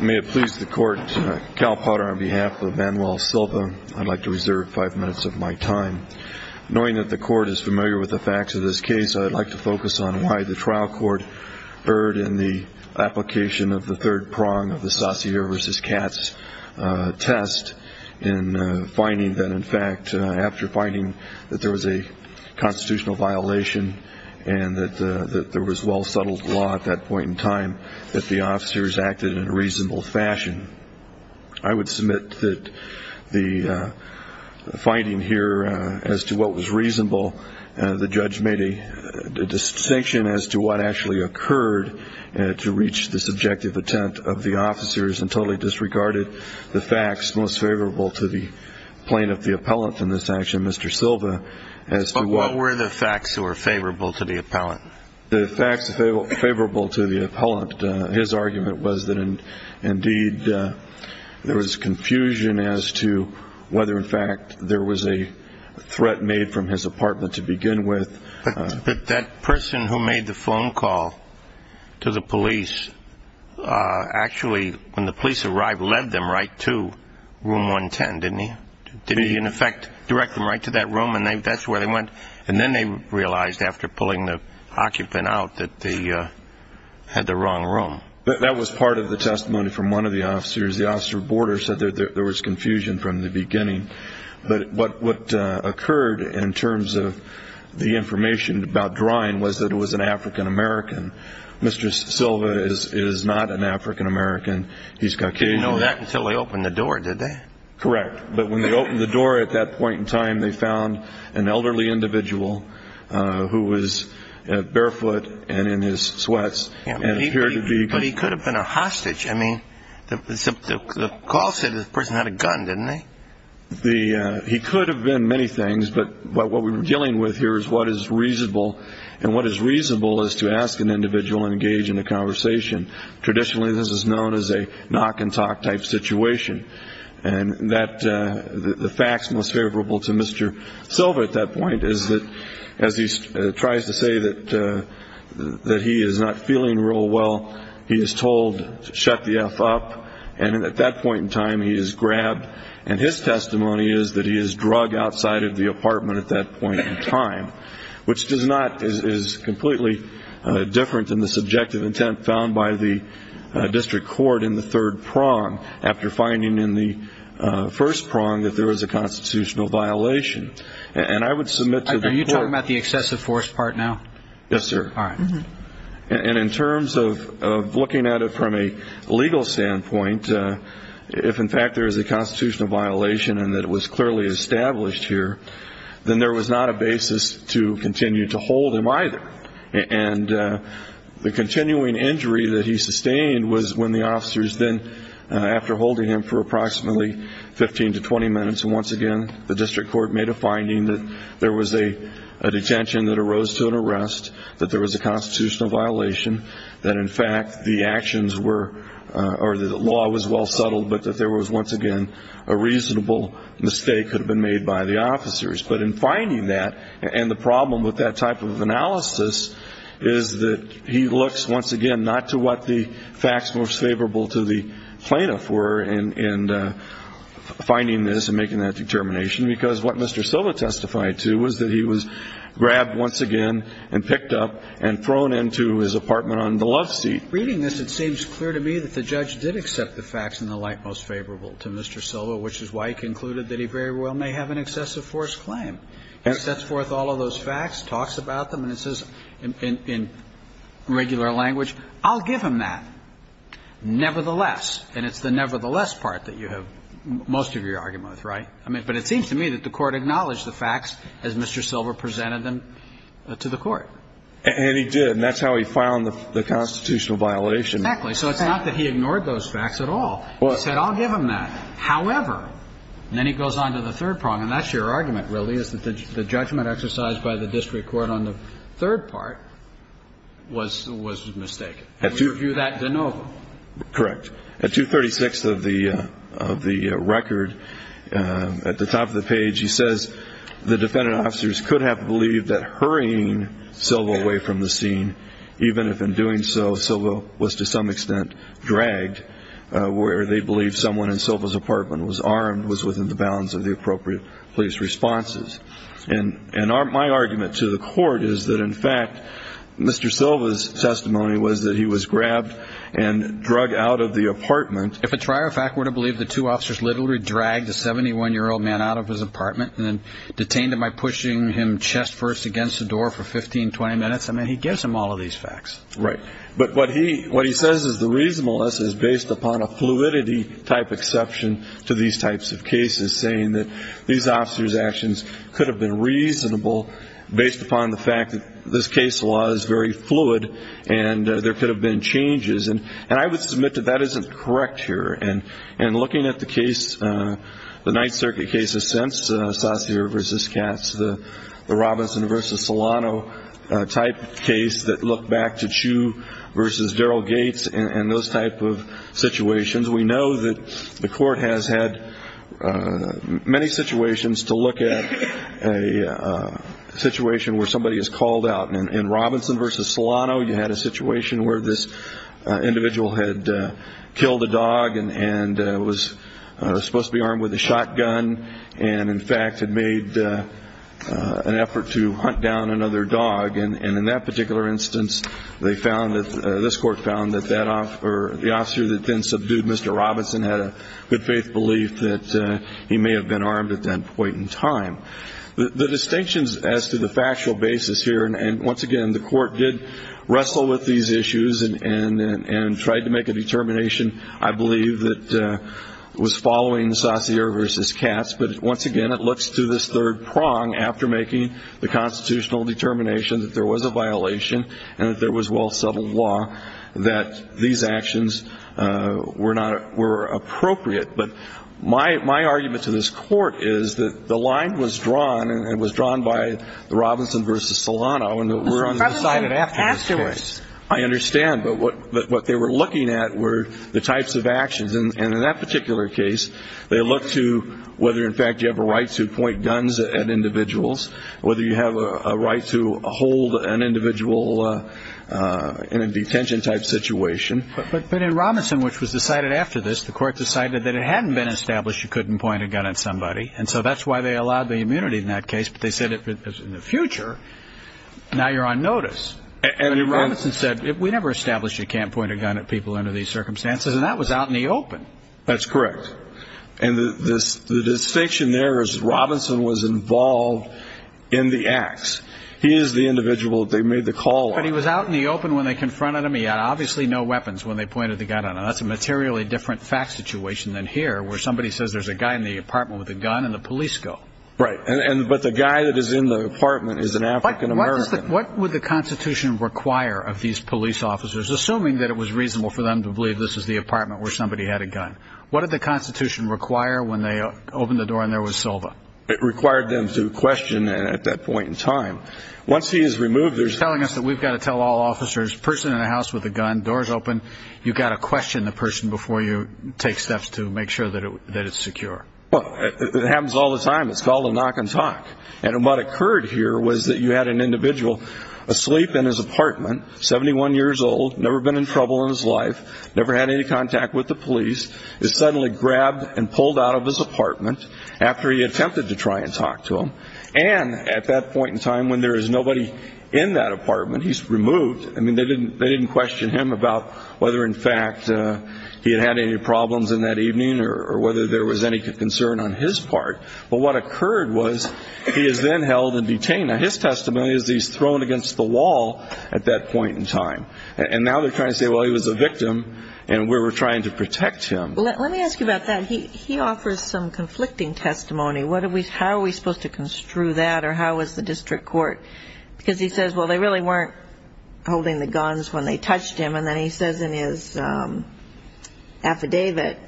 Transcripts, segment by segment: May it please the court, Cal Potter on behalf of Manuel Silva, I'd like to reserve five minutes of my time. Knowing that the court is familiar with the facts of this case, I'd like to focus on why the trial court erred in the application of the third prong of the Saussure v. Katz test in finding that, in fact, after finding that there was a constitutional violation and that there was well-settled law at that point in time, that the officers acted in a reasonable fashion. I would submit that the finding here as to what was reasonable, the judge made a distinction as to what actually occurred to reach the subjective attempt of the officers and totally disregarded the facts most favorable to the plaintiff, the appellant in this action, Mr. Silva, as to what... But what were the facts that were favorable to the appellant? The facts favorable to the appellant, his argument was that, indeed, there was confusion as to whether, in fact, there was a threat made from his apartment to begin with. But that person who made the phone call to the police actually, when the police arrived, led them right to room 110, didn't he? He, in effect, directed them right to that room, and that's where they went. And then they realized, after pulling the occupant out, that they had the wrong room. That was part of the testimony from one of the officers. The officer at the border said that there was confusion from the beginning. But what occurred in terms of the information about drying was that it was an African American. Mr. Silva is not an African American. He's Caucasian. They didn't know that until they opened the door, did they? Correct. But when they opened the door at that point in time, they found an elderly individual who was barefoot and in his sweats. But he could have been a hostage. I mean, the call said the person had a gun, didn't they? He could have been many things, but what we're dealing with here is what is reasonable. And what is reasonable is to ask an individual to engage in a conversation. Traditionally, this is known as a knock-and-talk type situation. And the facts most favorable to Mr. Silva at that point is that as he tries to say that he is not feeling real well, he is told to shut the F up, and at that point in time he is grabbed. And his testimony is that he is drug outside of the apartment at that point in time, which is completely different than the subjective intent found by the district court in the third prong after finding in the first prong that there was a constitutional violation. And I would submit to the court. Are you talking about the excessive force part now? Yes, sir. All right. And in terms of looking at it from a legal standpoint, if, in fact, there is a constitutional violation and that it was clearly established here, then there was not a basis to continue to hold him either. And the continuing injury that he sustained was when the officers then, after holding him for approximately 15 to 20 minutes, and once again the district court made a finding that there was a detention that arose to an arrest, that there was a constitutional violation, that, in fact, the actions were or the law was well settled but that there was, once again, a reasonable mistake that had been made by the officers. But in finding that and the problem with that type of analysis is that he looks, once again, not to what the facts most favorable to the plaintiff were in finding this and making that determination because what Mr. Silva testified to was that he was grabbed once again and picked up and thrown into his apartment on the love seat. Reading this, it seems clear to me that the judge did accept the facts in the light most favorable to Mr. Silva, which is why he concluded that he very well may have an excessive force claim. He sets forth all of those facts, talks about them, and it says in regular language, I'll give him that nevertheless. And it's the nevertheless part that you have most of your argument with, right? But it seems to me that the Court acknowledged the facts as Mr. Silva presented them to the Court. And he did, and that's how he found the constitutional violation. Exactly. So it's not that he ignored those facts at all. He said, I'll give him that, however. And then he goes on to the third problem, and that's your argument, really, is that the judgment exercised by the district court on the third part was mistaken. And we review that de novo. Correct. At 236 of the record, at the top of the page, he says, the defendant officers could have believed that hurrying Silva away from the scene, even if in doing so Silva was to some extent dragged, where they believed someone in Silva's apartment was armed, was within the bounds of the appropriate police responses. And my argument to the Court is that, in fact, Mr. Silva's testimony was that he was grabbed and drug out of the apartment. If a trier of fact were to believe the two officers literally dragged a 71-year-old man out of his apartment and then detained him by pushing him chest first against the door for 15, 20 minutes, I mean, he gives them all of these facts. Right. But what he says is the reasonableness is based upon a fluidity type exception to these types of cases, saying that these officers' actions could have been reasonable based upon the fact that this case law is very fluid and there could have been changes. And I would submit that that isn't correct here. And looking at the case, the Ninth Circuit cases since, Sassier v. Katz, the Robinson v. Solano type case that looked back to Chu v. Darrell Gates and those type of situations, we know that the Court has had many situations to look at a situation where somebody is called out. And in Robinson v. Solano, you had a situation where this individual had killed a dog and was supposed to be armed with a shotgun and, in fact, had made an effort to hunt down another dog. And in that particular instance, this Court found that the officer that then subdued Mr. Robinson had a good faith belief that he may have been armed at that point in time. The distinctions as to the factual basis here, and, once again, the Court did wrestle with these issues and tried to make a determination, I believe, that was following Sassier v. Katz. But, once again, it looks to this third prong after making the constitutional determination that there was a violation and that there was well-settled law that these actions were appropriate. But my argument to this Court is that the line was drawn and was drawn by Robinson v. Solano and that we're undecided after this case. I understand. But what they were looking at were the types of actions. And in that particular case, they looked to whether, in fact, you have a right to point guns at individuals, whether you have a right to hold an individual in a detention-type situation. But in Robinson, which was decided after this, the Court decided that it hadn't been established you couldn't point a gun at somebody. And so that's why they allowed the immunity in that case. But they said, in the future, now you're on notice. And Robinson said, we never established you can't point a gun at people under these circumstances. And that was out in the open. That's correct. And the distinction there is Robinson was involved in the acts. He is the individual that they made the call on. But he was out in the open when they confronted him. He had obviously no weapons when they pointed the gun at him. That's a materially different fact situation than here, where somebody says there's a guy in the apartment with a gun and the police go. Right. But the guy that is in the apartment is an African-American. What would the Constitution require of these police officers, assuming that it was reasonable for them to believe this is the apartment where somebody had a gun? What did the Constitution require when they opened the door and there was Silva? It required them to question at that point in time. Once he is removed, they're telling us that we've got to tell all officers, person in the house with a gun, doors open, you've got to question the person before you take steps to make sure that it's secure. Well, it happens all the time. It's called a knock and talk. And what occurred here was that you had an individual asleep in his apartment, 71 years old, never been in trouble in his life, never had any contact with the police, is suddenly grabbed and pulled out of his apartment after he attempted to try and talk to him. And at that point in time when there is nobody in that apartment, he's removed. I mean, they didn't question him about whether, in fact, he had had any problems in that evening or whether there was any concern on his part. But what occurred was he is then held and detained. Now, his testimony is he's thrown against the wall at that point in time. And now they're trying to say, well, he was a victim and we were trying to protect him. Let me ask you about that. He offers some conflicting testimony. How are we supposed to construe that or how is the district court? Because he says, well, they really weren't holding the guns when they touched him. And then he says in his affidavit,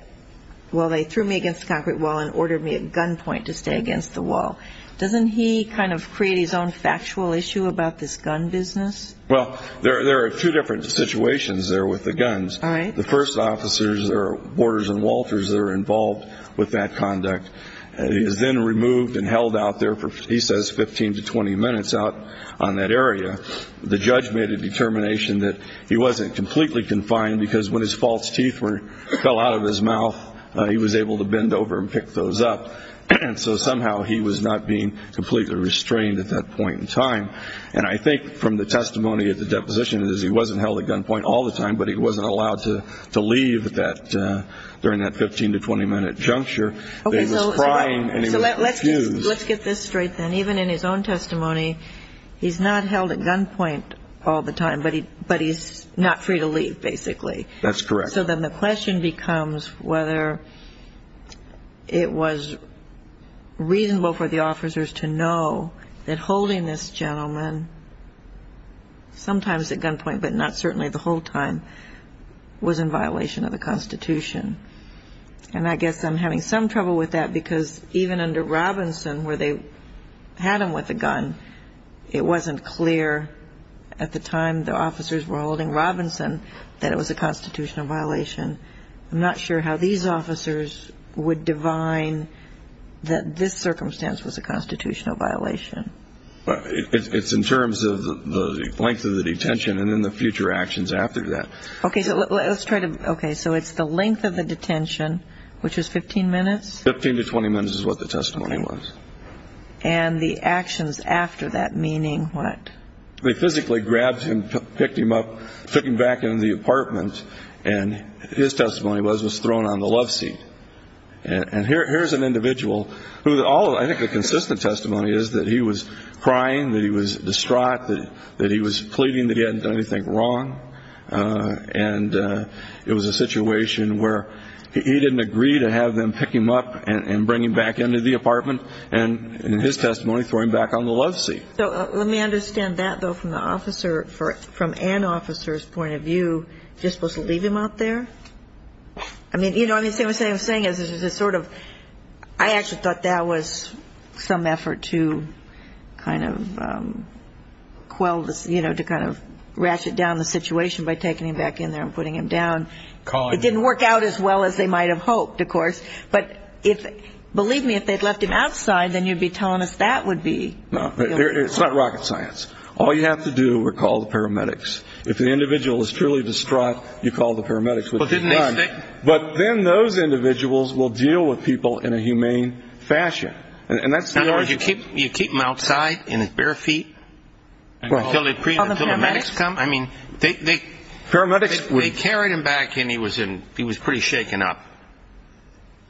well, they threw me against a concrete wall and ordered me at gunpoint to stay against the wall. Doesn't he kind of create his own factual issue about this gun business? Well, there are two different situations there with the guns. All right. The first officers are Worters and Walters that are involved with that conduct. He is then removed and held out there for, he says, 15 to 20 minutes out on that area. The judge made a determination that he wasn't completely confined because when his false teeth fell out of his mouth, he was able to bend over and pick those up. And so somehow he was not being completely restrained at that point in time. And I think from the testimony at the deposition is he wasn't held at gunpoint all the time, but he wasn't allowed to leave during that 15 to 20-minute juncture. He was crying and he was refused. Let's get this straight then. Even in his own testimony, he's not held at gunpoint all the time, but he's not free to leave, basically. That's correct. So then the question becomes whether it was reasonable for the officers to know that holding this gentleman, sometimes at gunpoint but not certainly the whole time, was in violation of the Constitution. And I guess I'm having some trouble with that because even under Robinson where they had him with a gun, it wasn't clear at the time the officers were holding Robinson that it was a constitutional violation. I'm not sure how these officers would divine that this circumstance was a constitutional violation. It's in terms of the length of the detention and then the future actions after that. Okay. So let's try to ‑‑ okay. So it's the length of the detention, which is 15 minutes? 15 to 20 minutes is what the testimony was. And the actions after that, meaning what? They physically grabbed him, picked him up, took him back into the apartment, and his testimony was he was thrown on the love seat. And here's an individual who all of the ‑‑ I think the consistent testimony is that he was crying, that he was distraught, that he was pleading that he hadn't done anything wrong, and it was a situation where he didn't agree to have them pick him up and bring him back into the apartment and, in his testimony, throw him back on the love seat. So let me understand that, though, from the officer, from an officer's point of view, you're supposed to leave him out there? I mean, you know what I'm saying? What I'm saying is there's a sort of ‑‑ I actually thought that was some effort to kind of quell this, you know, to kind of ratchet down the situation by taking him back in there and putting him down. It didn't work out as well as they might have hoped, of course. But believe me, if they'd left him outside, then you'd be telling us that would be ‑‑ It's not rocket science. All you have to do is call the paramedics. If the individual is truly distraught, you call the paramedics, which is done. But then those individuals will deal with people in a humane fashion. In other words, you keep him outside in his bare feet until the paramedics come? I mean, they carried him back in. He was pretty shaken up.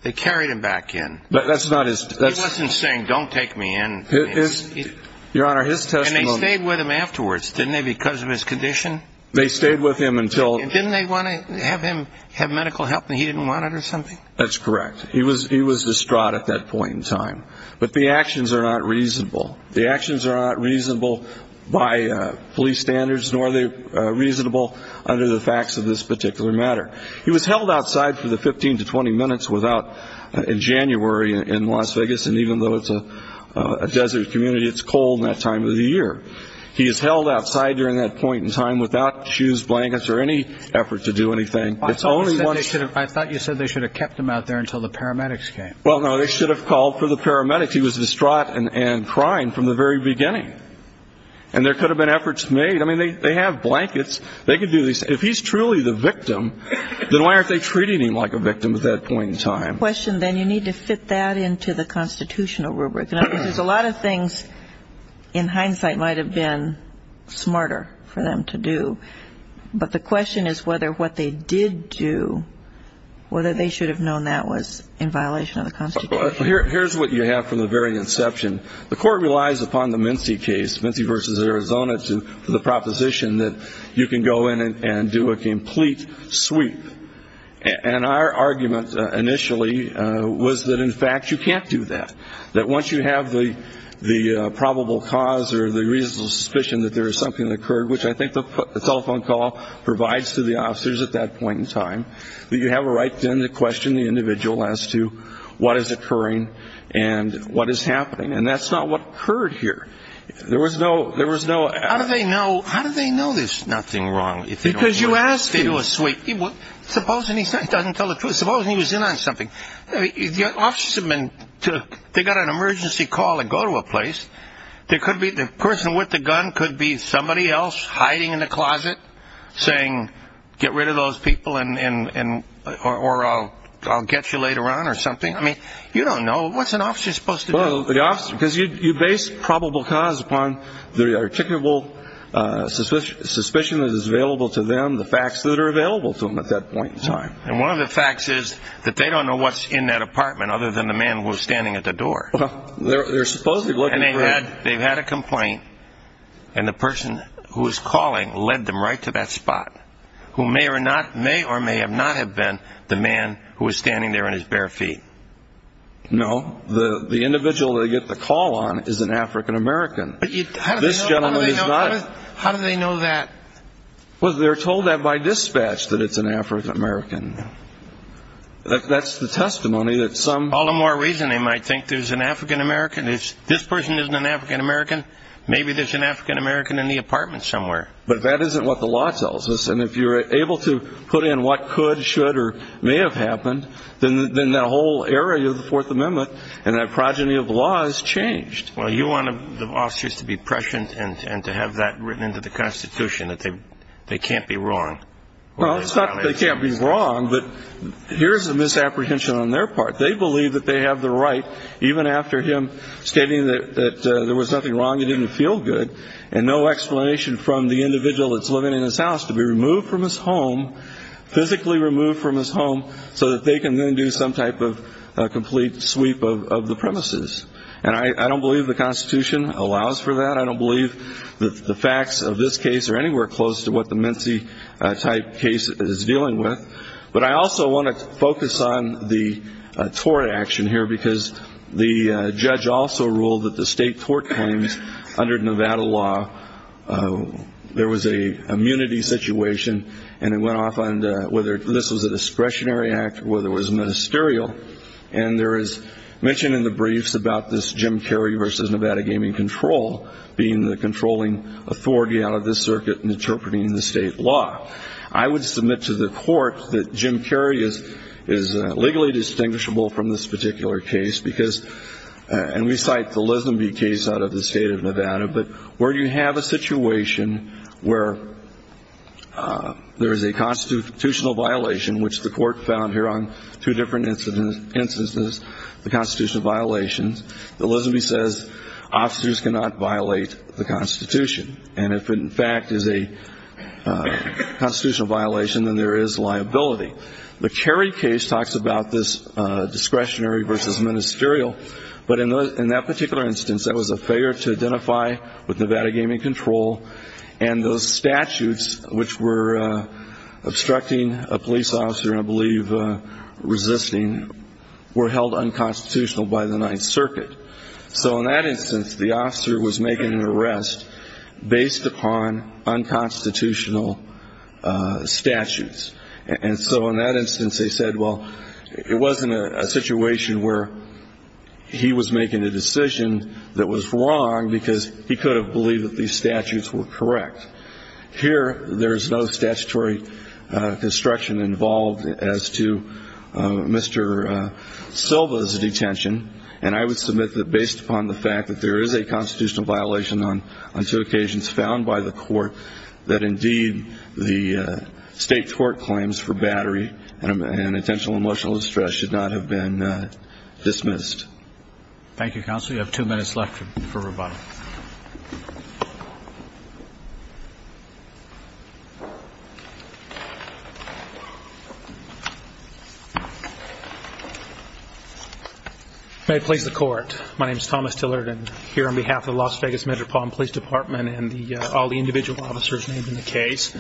They carried him back in. He wasn't saying, don't take me in. Your Honor, his testimony ‑‑ And they stayed with him afterwards, didn't they, because of his condition? They stayed with him until ‑‑ Didn't they want to have him have medical help and he didn't want it or something? That's correct. He was distraught at that point in time. But the actions are not reasonable. The actions are not reasonable by police standards, nor are they reasonable under the facts of this particular matter. He was held outside for the 15 to 20 minutes in January in Las Vegas, and even though it's a desert community, it's cold in that time of the year. He is held outside during that point in time without shoes, blankets, or any effort to do anything. I thought you said they should have kept him out there until the paramedics came. Well, no, they should have called for the paramedics. He was distraught and crying from the very beginning. And there could have been efforts made. I mean, they have blankets. They could do this. If he's truly the victim, then why aren't they treating him like a victim at that point in time? If that's your question, then you need to fit that into the constitutional rubric. Because a lot of things in hindsight might have been smarter for them to do. But the question is whether what they did do, whether they should have known that was in violation of the Constitution. Here's what you have from the very inception. The Court relies upon the Mincy case, Mincy v. Arizona, to the proposition that you can go in and do a complete sweep. And our argument initially was that, in fact, you can't do that, that once you have the probable cause or the reasonable suspicion that there is something that occurred, which I think the telephone call provides to the officers at that point in time, that you have a right then to question the individual as to what is occurring and what is happening. And that's not what occurred here. There was no ---- How do they know there's nothing wrong if they don't do a sweep? Supposing he doesn't tell the truth. Supposing he was in on something. The officers have got an emergency call to go to a place. The person with the gun could be somebody else hiding in a closet saying, get rid of those people or I'll get you later on or something. I mean, you don't know. What's an officer supposed to do? Because you base probable cause upon the articulable suspicion that is available to them, the facts that are available to them at that point in time. And one of the facts is that they don't know what's in that apartment other than the man who was standing at the door. They're supposedly looking for him. And they've had a complaint, and the person who was calling led them right to that spot, who may or may not have been the man who was standing there on his bare feet. No. The individual they get the call on is an African-American. This gentleman is not. How do they know that? Well, they're told that by dispatch that it's an African-American. That's the testimony that some. All the more reason they might think there's an African-American. This person isn't an African-American. Maybe there's an African-American in the apartment somewhere. But that isn't what the law tells us. And if you're able to put in what could, should, or may have happened, then that whole area of the Fourth Amendment and that progeny of the law is changed. Well, you want the officers to be prescient and to have that written into the Constitution, that they can't be wrong. Well, it's not that they can't be wrong, but here's the misapprehension on their part. They believe that they have the right, even after him stating that there was nothing wrong, it didn't feel good, and no explanation from the individual that's living in his house, to be removed from his home, physically removed from his home, so that they can then do some type of complete sweep of the premises. And I don't believe the Constitution allows for that. I don't believe that the facts of this case are anywhere close to what the Mincie-type case is dealing with. But I also want to focus on the tort action here, because the judge also ruled that the state tort claims under Nevada law, there was an immunity situation, and it went off on whether this was a discretionary act or whether it was ministerial. And there is mention in the briefs about this Jim Carey v. Nevada Gaming Control being the controlling authority out of this circuit and interpreting the state law. I would submit to the court that Jim Carey is legally distinguishable from this particular case, because, and we cite the Lisenby case out of the state of Nevada, but where you have a situation where there is a constitutional violation, which the court found here on two different instances, the constitutional violations. The Lisenby says officers cannot violate the Constitution. And if it, in fact, is a constitutional violation, then there is liability. The Carey case talks about this discretionary versus ministerial. But in that particular instance, that was a failure to identify with Nevada Gaming Control. And those statutes, which were obstructing a police officer and I believe resisting, were held unconstitutional by the Ninth Circuit. So in that instance, the officer was making an arrest based upon unconstitutional statutes. And so in that instance, they said, well, it wasn't a situation where he was making a decision that was wrong, because he could have believed that these statutes were correct. Here, there is no statutory construction involved as to Mr. Silva's detention. And I would submit that based upon the fact that there is a constitutional violation on two occasions found by the court, that indeed the state court claims for battery and intentional emotional distress should not have been dismissed. Thank you, Counsel. You have two minutes left for rebuttal. May it please the Court. My name is Thomas Tillerton, here on behalf of the Las Vegas Metropolitan Police Department and all the individual officers named in the case,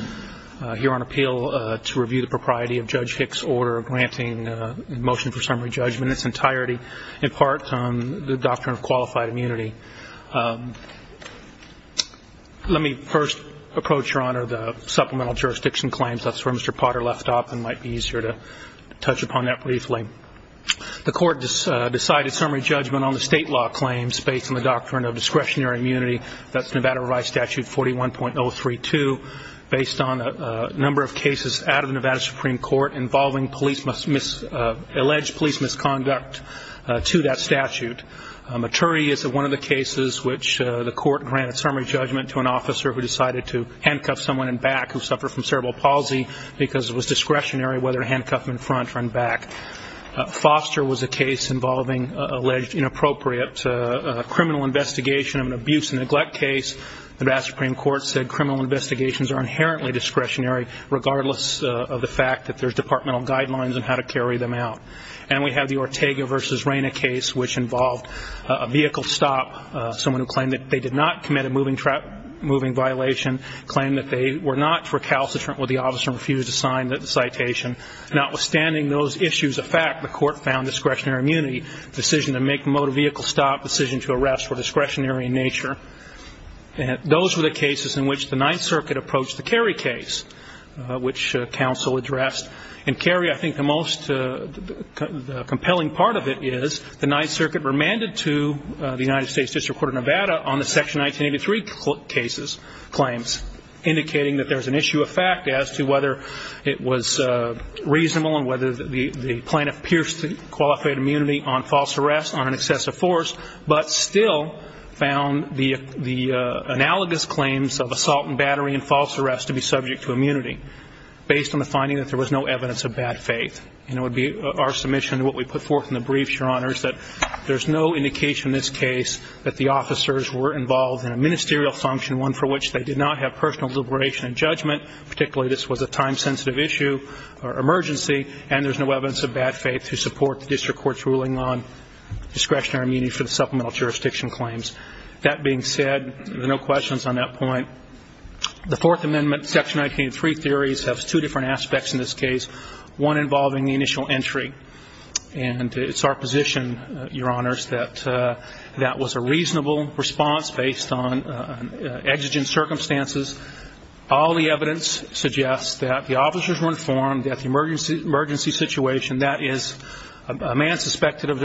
here on appeal to review the propriety of Judge Hicks' order granting a motion for summary judgment in its entirety. In part, the doctrine of qualified immunity. Let me first approach, Your Honor, the supplemental jurisdiction claims. That's where Mr. Potter left off and might be easier to touch upon that briefly. The Court decided summary judgment on the state law claims based on the doctrine of discretionary immunity. That's Nevada Revised Statute 41.032, based on a number of cases out of the Nevada Supreme Court involving alleged police misconduct to that statute. Maturi is one of the cases which the court granted summary judgment to an officer who decided to handcuff someone in back who suffered from cerebral palsy because it was discretionary whether to handcuff him in front or in back. Foster was a case involving alleged inappropriate criminal investigation of an abuse and neglect case. The Nevada Supreme Court said criminal investigations are inherently discretionary, regardless of the fact that there's departmental guidelines on how to carry them out. And we have the Ortega v. Reina case, which involved a vehicle stop, someone who claimed that they did not commit a moving violation, claimed that they were not recalcitrant with the officer and refused to sign the citation. Notwithstanding those issues of fact, the court found discretionary immunity, the decision to make a motor vehicle stop, decision to arrest were discretionary in nature. Those were the cases in which the Ninth Circuit approached the Kerry case, which counsel addressed. And Kerry, I think the most compelling part of it is the Ninth Circuit remanded to the United States District Court of Nevada on the Section 1983 claims, indicating that there's an issue of fact as to whether it was reasonable and whether the plaintiff pierced the qualified immunity on false arrest on an excessive force, but still found the analogous claims of assault and battery and false arrest to be subject to immunity, based on the finding that there was no evidence of bad faith. And it would be our submission to what we put forth in the brief, Your Honors, that there's no indication in this case that the officers were involved in a ministerial function, particularly this was a time-sensitive issue or emergency, and there's no evidence of bad faith to support the district court's ruling on discretionary immunity for the supplemental jurisdiction claims. That being said, there are no questions on that point. The Fourth Amendment Section 1983 theories have two different aspects in this case, one involving the initial entry. And it's our position, Your Honors, that that was a reasonable response based on exigent circumstances. All the evidence suggests that the officers were informed that the emergency situation, that is, a man suspected of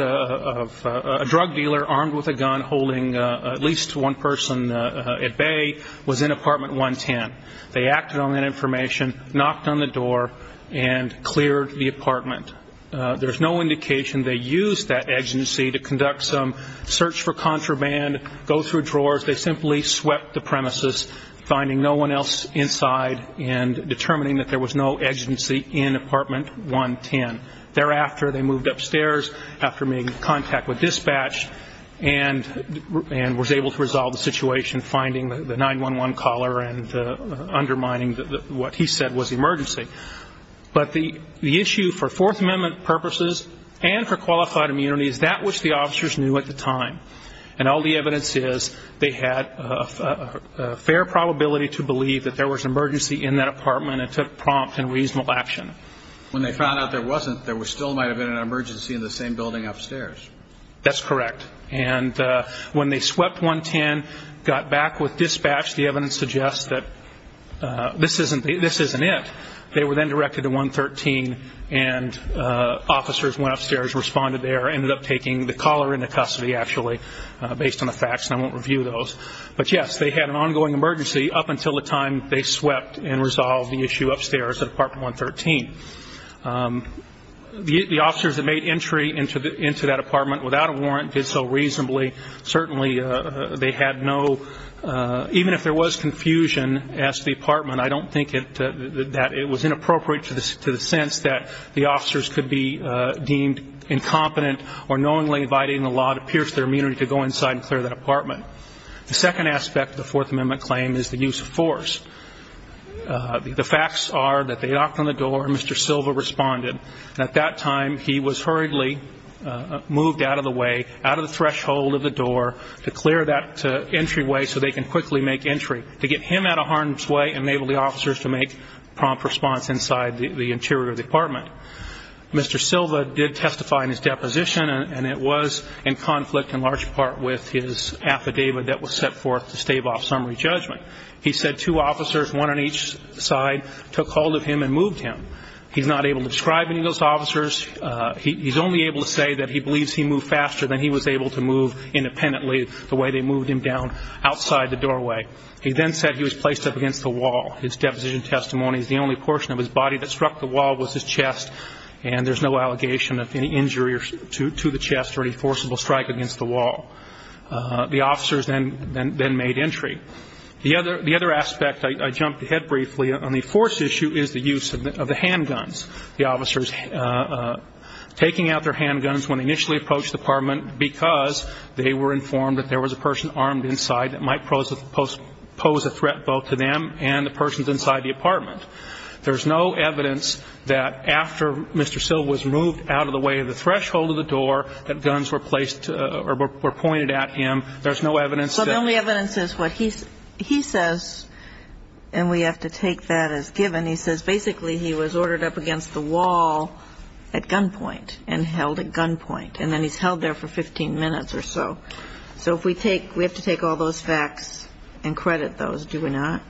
a drug dealer armed with a gun holding at least one person at bay, was in Apartment 110. They acted on that information, knocked on the door, and cleared the apartment. There's no indication they used that exigency to conduct some search for contraband, go through drawers. They simply swept the premises, finding no one else inside and determining that there was no exigency in Apartment 110. Thereafter, they moved upstairs after making contact with dispatch and was able to resolve the situation, finding the 911 caller and undermining what he said was the emergency. But the issue for Fourth Amendment purposes and for qualified immunity is that which the officers knew at the time. And all the evidence is they had a fair probability to believe that there was an emergency in that apartment and took prompt and reasonable action. When they found out there wasn't, there still might have been an emergency in the same building upstairs. That's correct. And when they swept 110, got back with dispatch, the evidence suggests that this isn't it. They were then directed to 113, and officers went upstairs, responded there, ended up taking the caller into custody, actually, based on the facts, and I won't review those. But, yes, they had an ongoing emergency up until the time they swept and resolved the issue upstairs at Apartment 113. The officers that made entry into that apartment without a warrant did so reasonably. Certainly, they had no, even if there was confusion as to the apartment, I don't think that it was inappropriate to the sense that the officers could be deemed incompetent or knowingly violating the law to pierce their immunity to go inside and clear that apartment. The second aspect of the Fourth Amendment claim is the use of force. The facts are that they knocked on the door and Mr. Silva responded. At that time, he was hurriedly moved out of the way, out of the threshold of the door, to clear that entryway so they can quickly make entry. To get him out of harm's way and enable the officers to make prompt response inside the interior of the apartment. Mr. Silva did testify in his deposition, and it was in conflict in large part with his affidavit that was set forth to stave off summary judgment. He said two officers, one on each side, took hold of him and moved him. He's not able to describe any of those officers. He's only able to say that he believes he moved faster than he was able to move independently the way they moved him down outside the doorway. He then said he was placed up against the wall. His deposition testimony is the only portion of his body that struck the wall was his chest, and there's no allegation of any injury to the chest or any forcible strike against the wall. The officers then made entry. The other aspect, I jumped ahead briefly, on the force issue is the use of the handguns. The officers taking out their handguns when they initially approached the apartment because they were informed that there was a person armed inside that might pose a threat both to them and the persons inside the apartment. There's no evidence that after Mr. Silva was moved out of the way of the threshold of the door that guns were placed or were pointed at him. There's no evidence that he was placed there. So the only evidence is what he says, and we have to take that as given. And he says basically he was ordered up against the wall at gunpoint and held at gunpoint, and then he's held there for 15 minutes or so. So we have to take all those facts and credit those, do we not?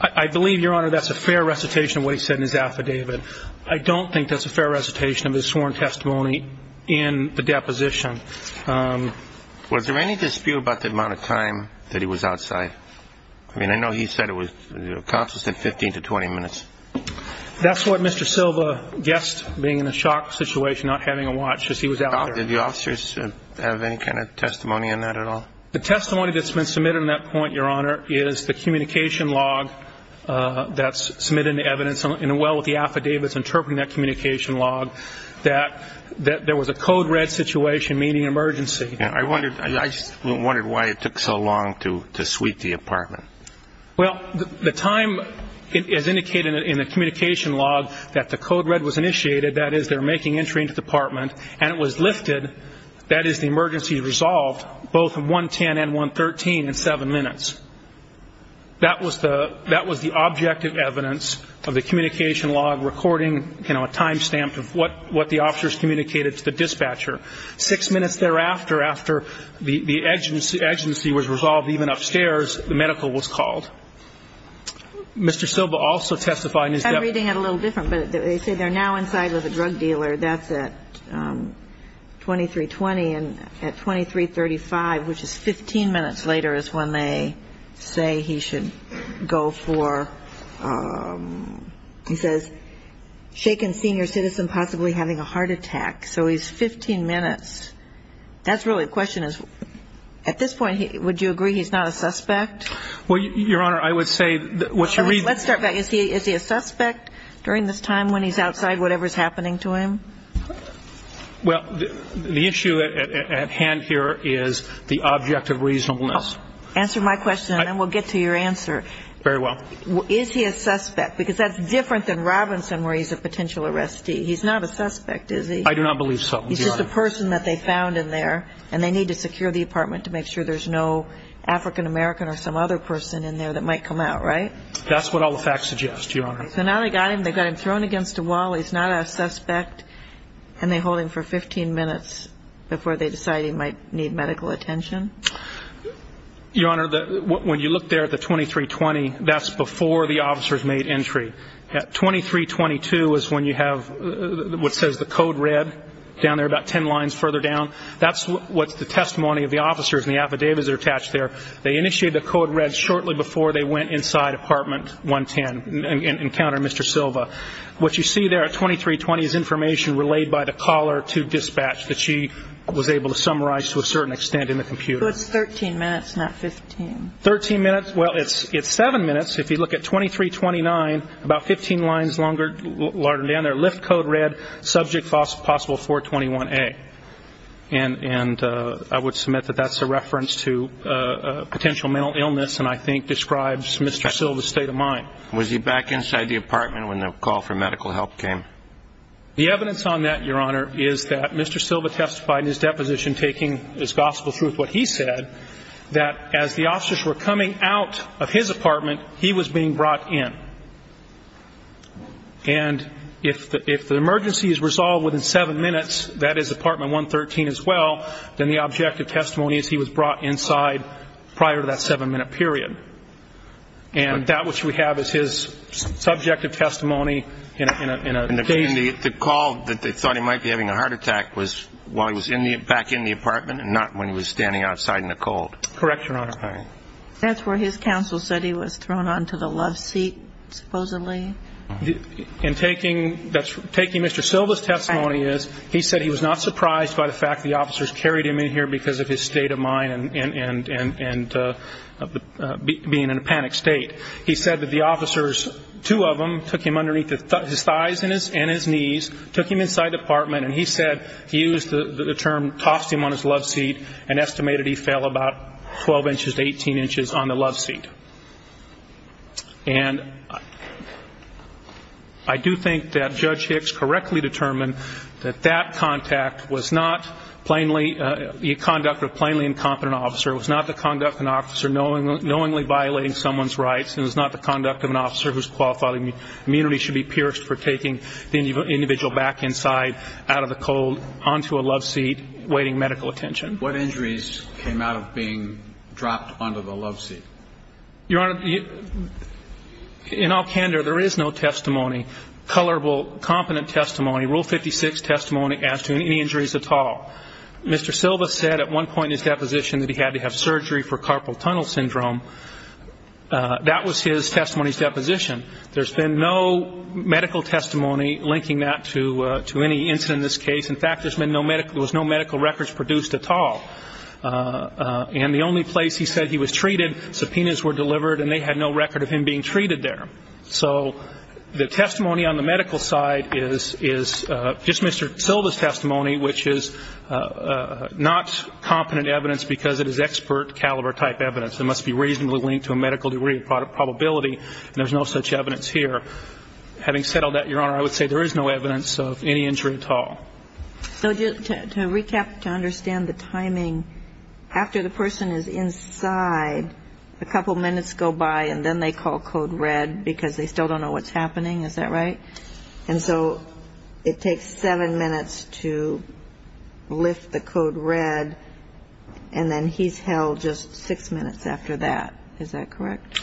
I believe, Your Honor, that's a fair recitation of what he said in his affidavit. I don't think that's a fair recitation of his sworn testimony in the deposition. Was there any dispute about the amount of time that he was outside? I mean, I know he said it was, you know, cops said 15 to 20 minutes. That's what Mr. Silva guessed, being in a shock situation, not having a watch, is he was out there. Did the officers have any kind of testimony on that at all? The testimony that's been submitted on that point, Your Honor, is the communication log that's submitted in the evidence, and well with the affidavits interpreting that communication log, that there was a code red situation, meaning emergency. I wondered why it took so long to sweep the apartment. Well, the time is indicated in the communication log that the code red was initiated, that is they're making entry into the apartment, and it was lifted, that is the emergency resolved, both at 110 and 113 in seven minutes. That was the objective evidence of the communication log recording, you know, a time stamp of what the officers communicated to the dispatcher. Six minutes thereafter, after the emergency was resolved, even upstairs, the medical was called. Mr. Silva also testified. I'm reading it a little different, but they say they're now inside with a drug dealer. That's at 2320, and at 2335, which is 15 minutes later, is when they say he should go for, he says, shaken senior citizen possibly having a heart attack. So he's 15 minutes. That's really the question. At this point, would you agree he's not a suspect? Well, Your Honor, I would say what you read. Let's start back. Is he a suspect during this time when he's outside, whatever's happening to him? Well, the issue at hand here is the object of reasonableness. Answer my question, and then we'll get to your answer. Very well. Is he a suspect? Because that's different than Robinson where he's a potential arrestee. He's not a suspect, is he? I do not believe so, Your Honor. He's just a person that they found in there, and they need to secure the apartment to make sure there's no African American or some other person in there that might come out, right? That's what all the facts suggest, Your Honor. So now they've got him thrown against a wall, he's not a suspect, and they hold him for 15 minutes before they decide he might need medical attention? Your Honor, when you look there at the 2320, that's before the officer's made entry. At 2322 is when you have what says the code red down there about ten lines further down. That's what's the testimony of the officers, and the affidavits are attached there. They initiated the code red shortly before they went inside apartment 110 and encountered Mr. Silva. What you see there at 2320 is information relayed by the caller to dispatch that she was able to summarize to a certain extent in the computer. So it's 13 minutes, not 15. Thirteen minutes? Well, it's seven minutes. If you look at 2329, about 15 lines longer down there, lift code red, subject possible 421A. And I would submit that that's a reference to potential mental illness and I think describes Mr. Silva's state of mind. Was he back inside the apartment when the call for medical help came? The evidence on that, Your Honor, is that Mr. Silva testified in his deposition taking his gospel truth what he said, that as the officers were coming out of his apartment, he was being brought in. And if the emergency is resolved within seven minutes, that is apartment 113 as well, then the objective testimony is he was brought inside prior to that seven-minute period. And that which we have is his subjective testimony in a case. The call that they thought he might be having a heart attack was while he was back in the apartment and not when he was standing outside in the cold. Correct, Your Honor. That's where his counsel said he was thrown onto the love seat, supposedly. And taking Mr. Silva's testimony is he said he was not surprised by the fact the officers carried him in here because of his state of mind and being in a panicked state. He said that the officers, two of them, took him underneath his thighs and his knees, took him inside the apartment, and he said he used the term, tossed him on his love seat and estimated he fell about 12 inches to 18 inches on the love seat. And I do think that Judge Hicks correctly determined that that contact was not plainly the conduct of a plainly incompetent officer, it was not the conduct of an officer knowingly violating someone's rights, and it was not the conduct of an officer whose qualified immunity should be pierced for taking the individual back inside out of the cold onto a love seat waiting medical attention. What injuries came out of being dropped onto the love seat? Your Honor, in all candor, there is no testimony, colorable, competent testimony, Rule 56 testimony as to any injuries at all. Mr. Silva said at one point in his deposition that he had to have surgery for carpal tunnel syndrome. That was his testimony's deposition. There's been no medical testimony linking that to any incident in this case. In fact, there's been no medical records produced at all. And the only place he said he was treated, subpoenas were delivered and they had no record of him being treated there. So the testimony on the medical side is just Mr. Silva's testimony, which is not competent evidence because it is expert caliber type evidence. It must be reasonably linked to a medical degree of probability, and there's no such evidence here. Having said all that, Your Honor, I would say there is no evidence of any injury at all. So to recap, to understand the timing, after the person is inside, a couple minutes go by and then they call Code Red because they still don't know what's happening. Is that right? And so it takes seven minutes to lift the Code Red, and then he's held just six minutes after that. Is that correct?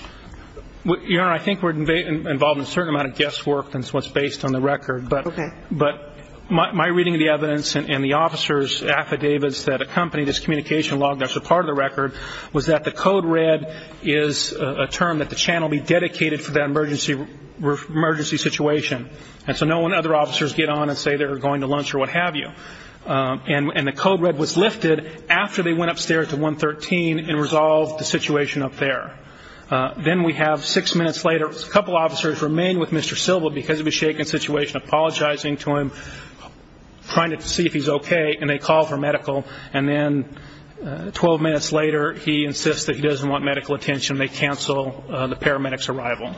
Your Honor, I think we're involved in a certain amount of guesswork that's what's based on the record. Okay. But my reading of the evidence and the officer's affidavits that accompany this communication log that's a part of the record was that the Code Red is a term that the channel be dedicated for that emergency situation. And so no one other officers get on and say they're going to lunch or what have you. And the Code Red was lifted after they went upstairs to 113 and resolved the situation up there. Then we have six minutes later, a couple officers remain with Mr. Silva because of a shaken situation, apologizing to him, trying to see if he's okay, and they call for medical. And then 12 minutes later, he insists that he doesn't want medical attention. They cancel the paramedic's arrival.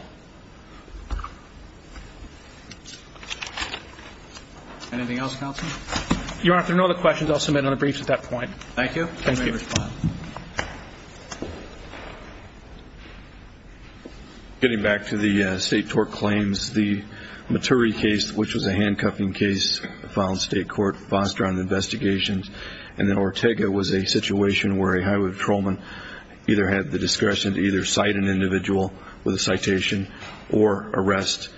Anything else, counsel? Your Honor, if there are no other questions, I'll submit another brief at that point. Thank you. You may respond. Getting back to the state tort claims, the Maturi case, which was a handcuffing case, was a case that the Nevada Supreme Court filed in state court, fostered on investigations. And then Ortega was a situation where a highway patrolman either had the discretion to either cite an individual with a citation or arrest.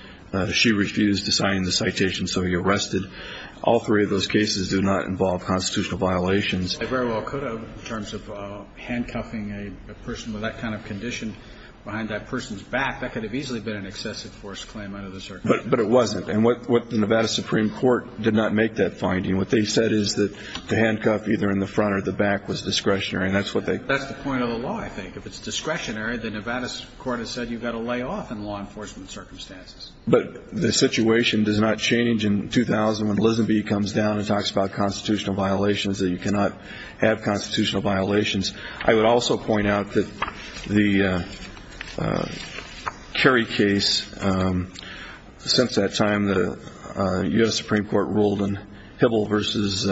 She refused to sign the citation, so he arrested. All three of those cases do not involve constitutional violations. They very well could have in terms of handcuffing a person with that kind of condition behind that person's back. That could have easily been an excessive force claim under the circumstances. But it wasn't. And what the Nevada Supreme Court did not make that finding. What they said is that the handcuff either in the front or the back was discretionary. That's the point of the law, I think. If it's discretionary, the Nevada Supreme Court has said you've got to lay off in law enforcement circumstances. But the situation does not change in 2000 when Lisenby comes down and talks about constitutional violations, that you cannot have constitutional violations. I would also point out that the Kerry case, since that time the U.S. Supreme Court ruled on Hibble versus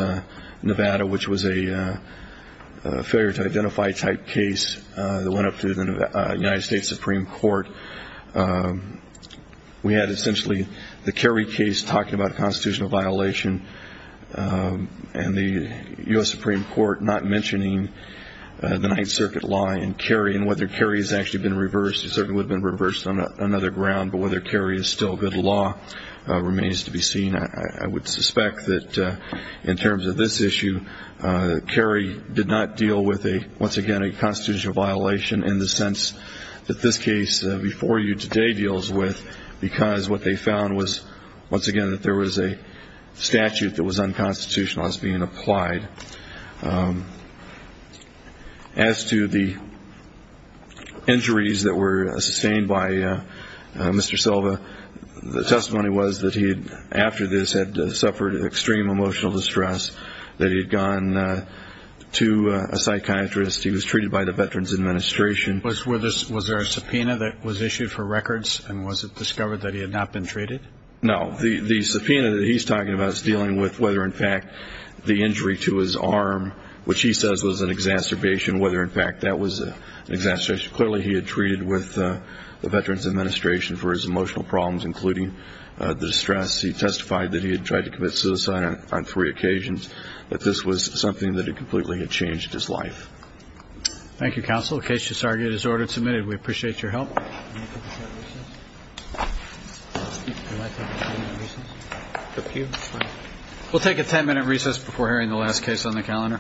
Nevada, which was a failure to identify type case that went up through the United States Supreme Court. We had essentially the Kerry case talking about a constitutional violation and the U.S. Supreme Court not mentioning the Ninth Circuit law in Kerry and whether Kerry has actually been reversed. It certainly would have been reversed on another ground. But whether Kerry is still good law remains to be seen. I would suspect that in terms of this issue, Kerry did not deal with, once again, a constitutional violation in the sense that this case before you today deals with because what they found was, once again, that there was a statute that was unconstitutional as being applied. As to the injuries that were sustained by Mr. Silva, the testimony was that he, after this, had suffered extreme emotional distress, that he had gone to a psychiatrist, he was treated by the Veterans Administration. Was there a subpoena that was issued for records, and was it discovered that he had not been treated? No. The subpoena that he's talking about is dealing with whether, in fact, the injury to his arm, which he says was an exacerbation, whether, in fact, that was an exacerbation. Clearly, he had treated with the Veterans Administration for his emotional problems, including the distress. He testified that he had tried to commit suicide on three occasions, that this was something that had completely changed his life. Thank you, Counsel. The case to submit is ordered and submitted. We appreciate your help. We'll take a ten-minute recess before hearing the last case on the calendar.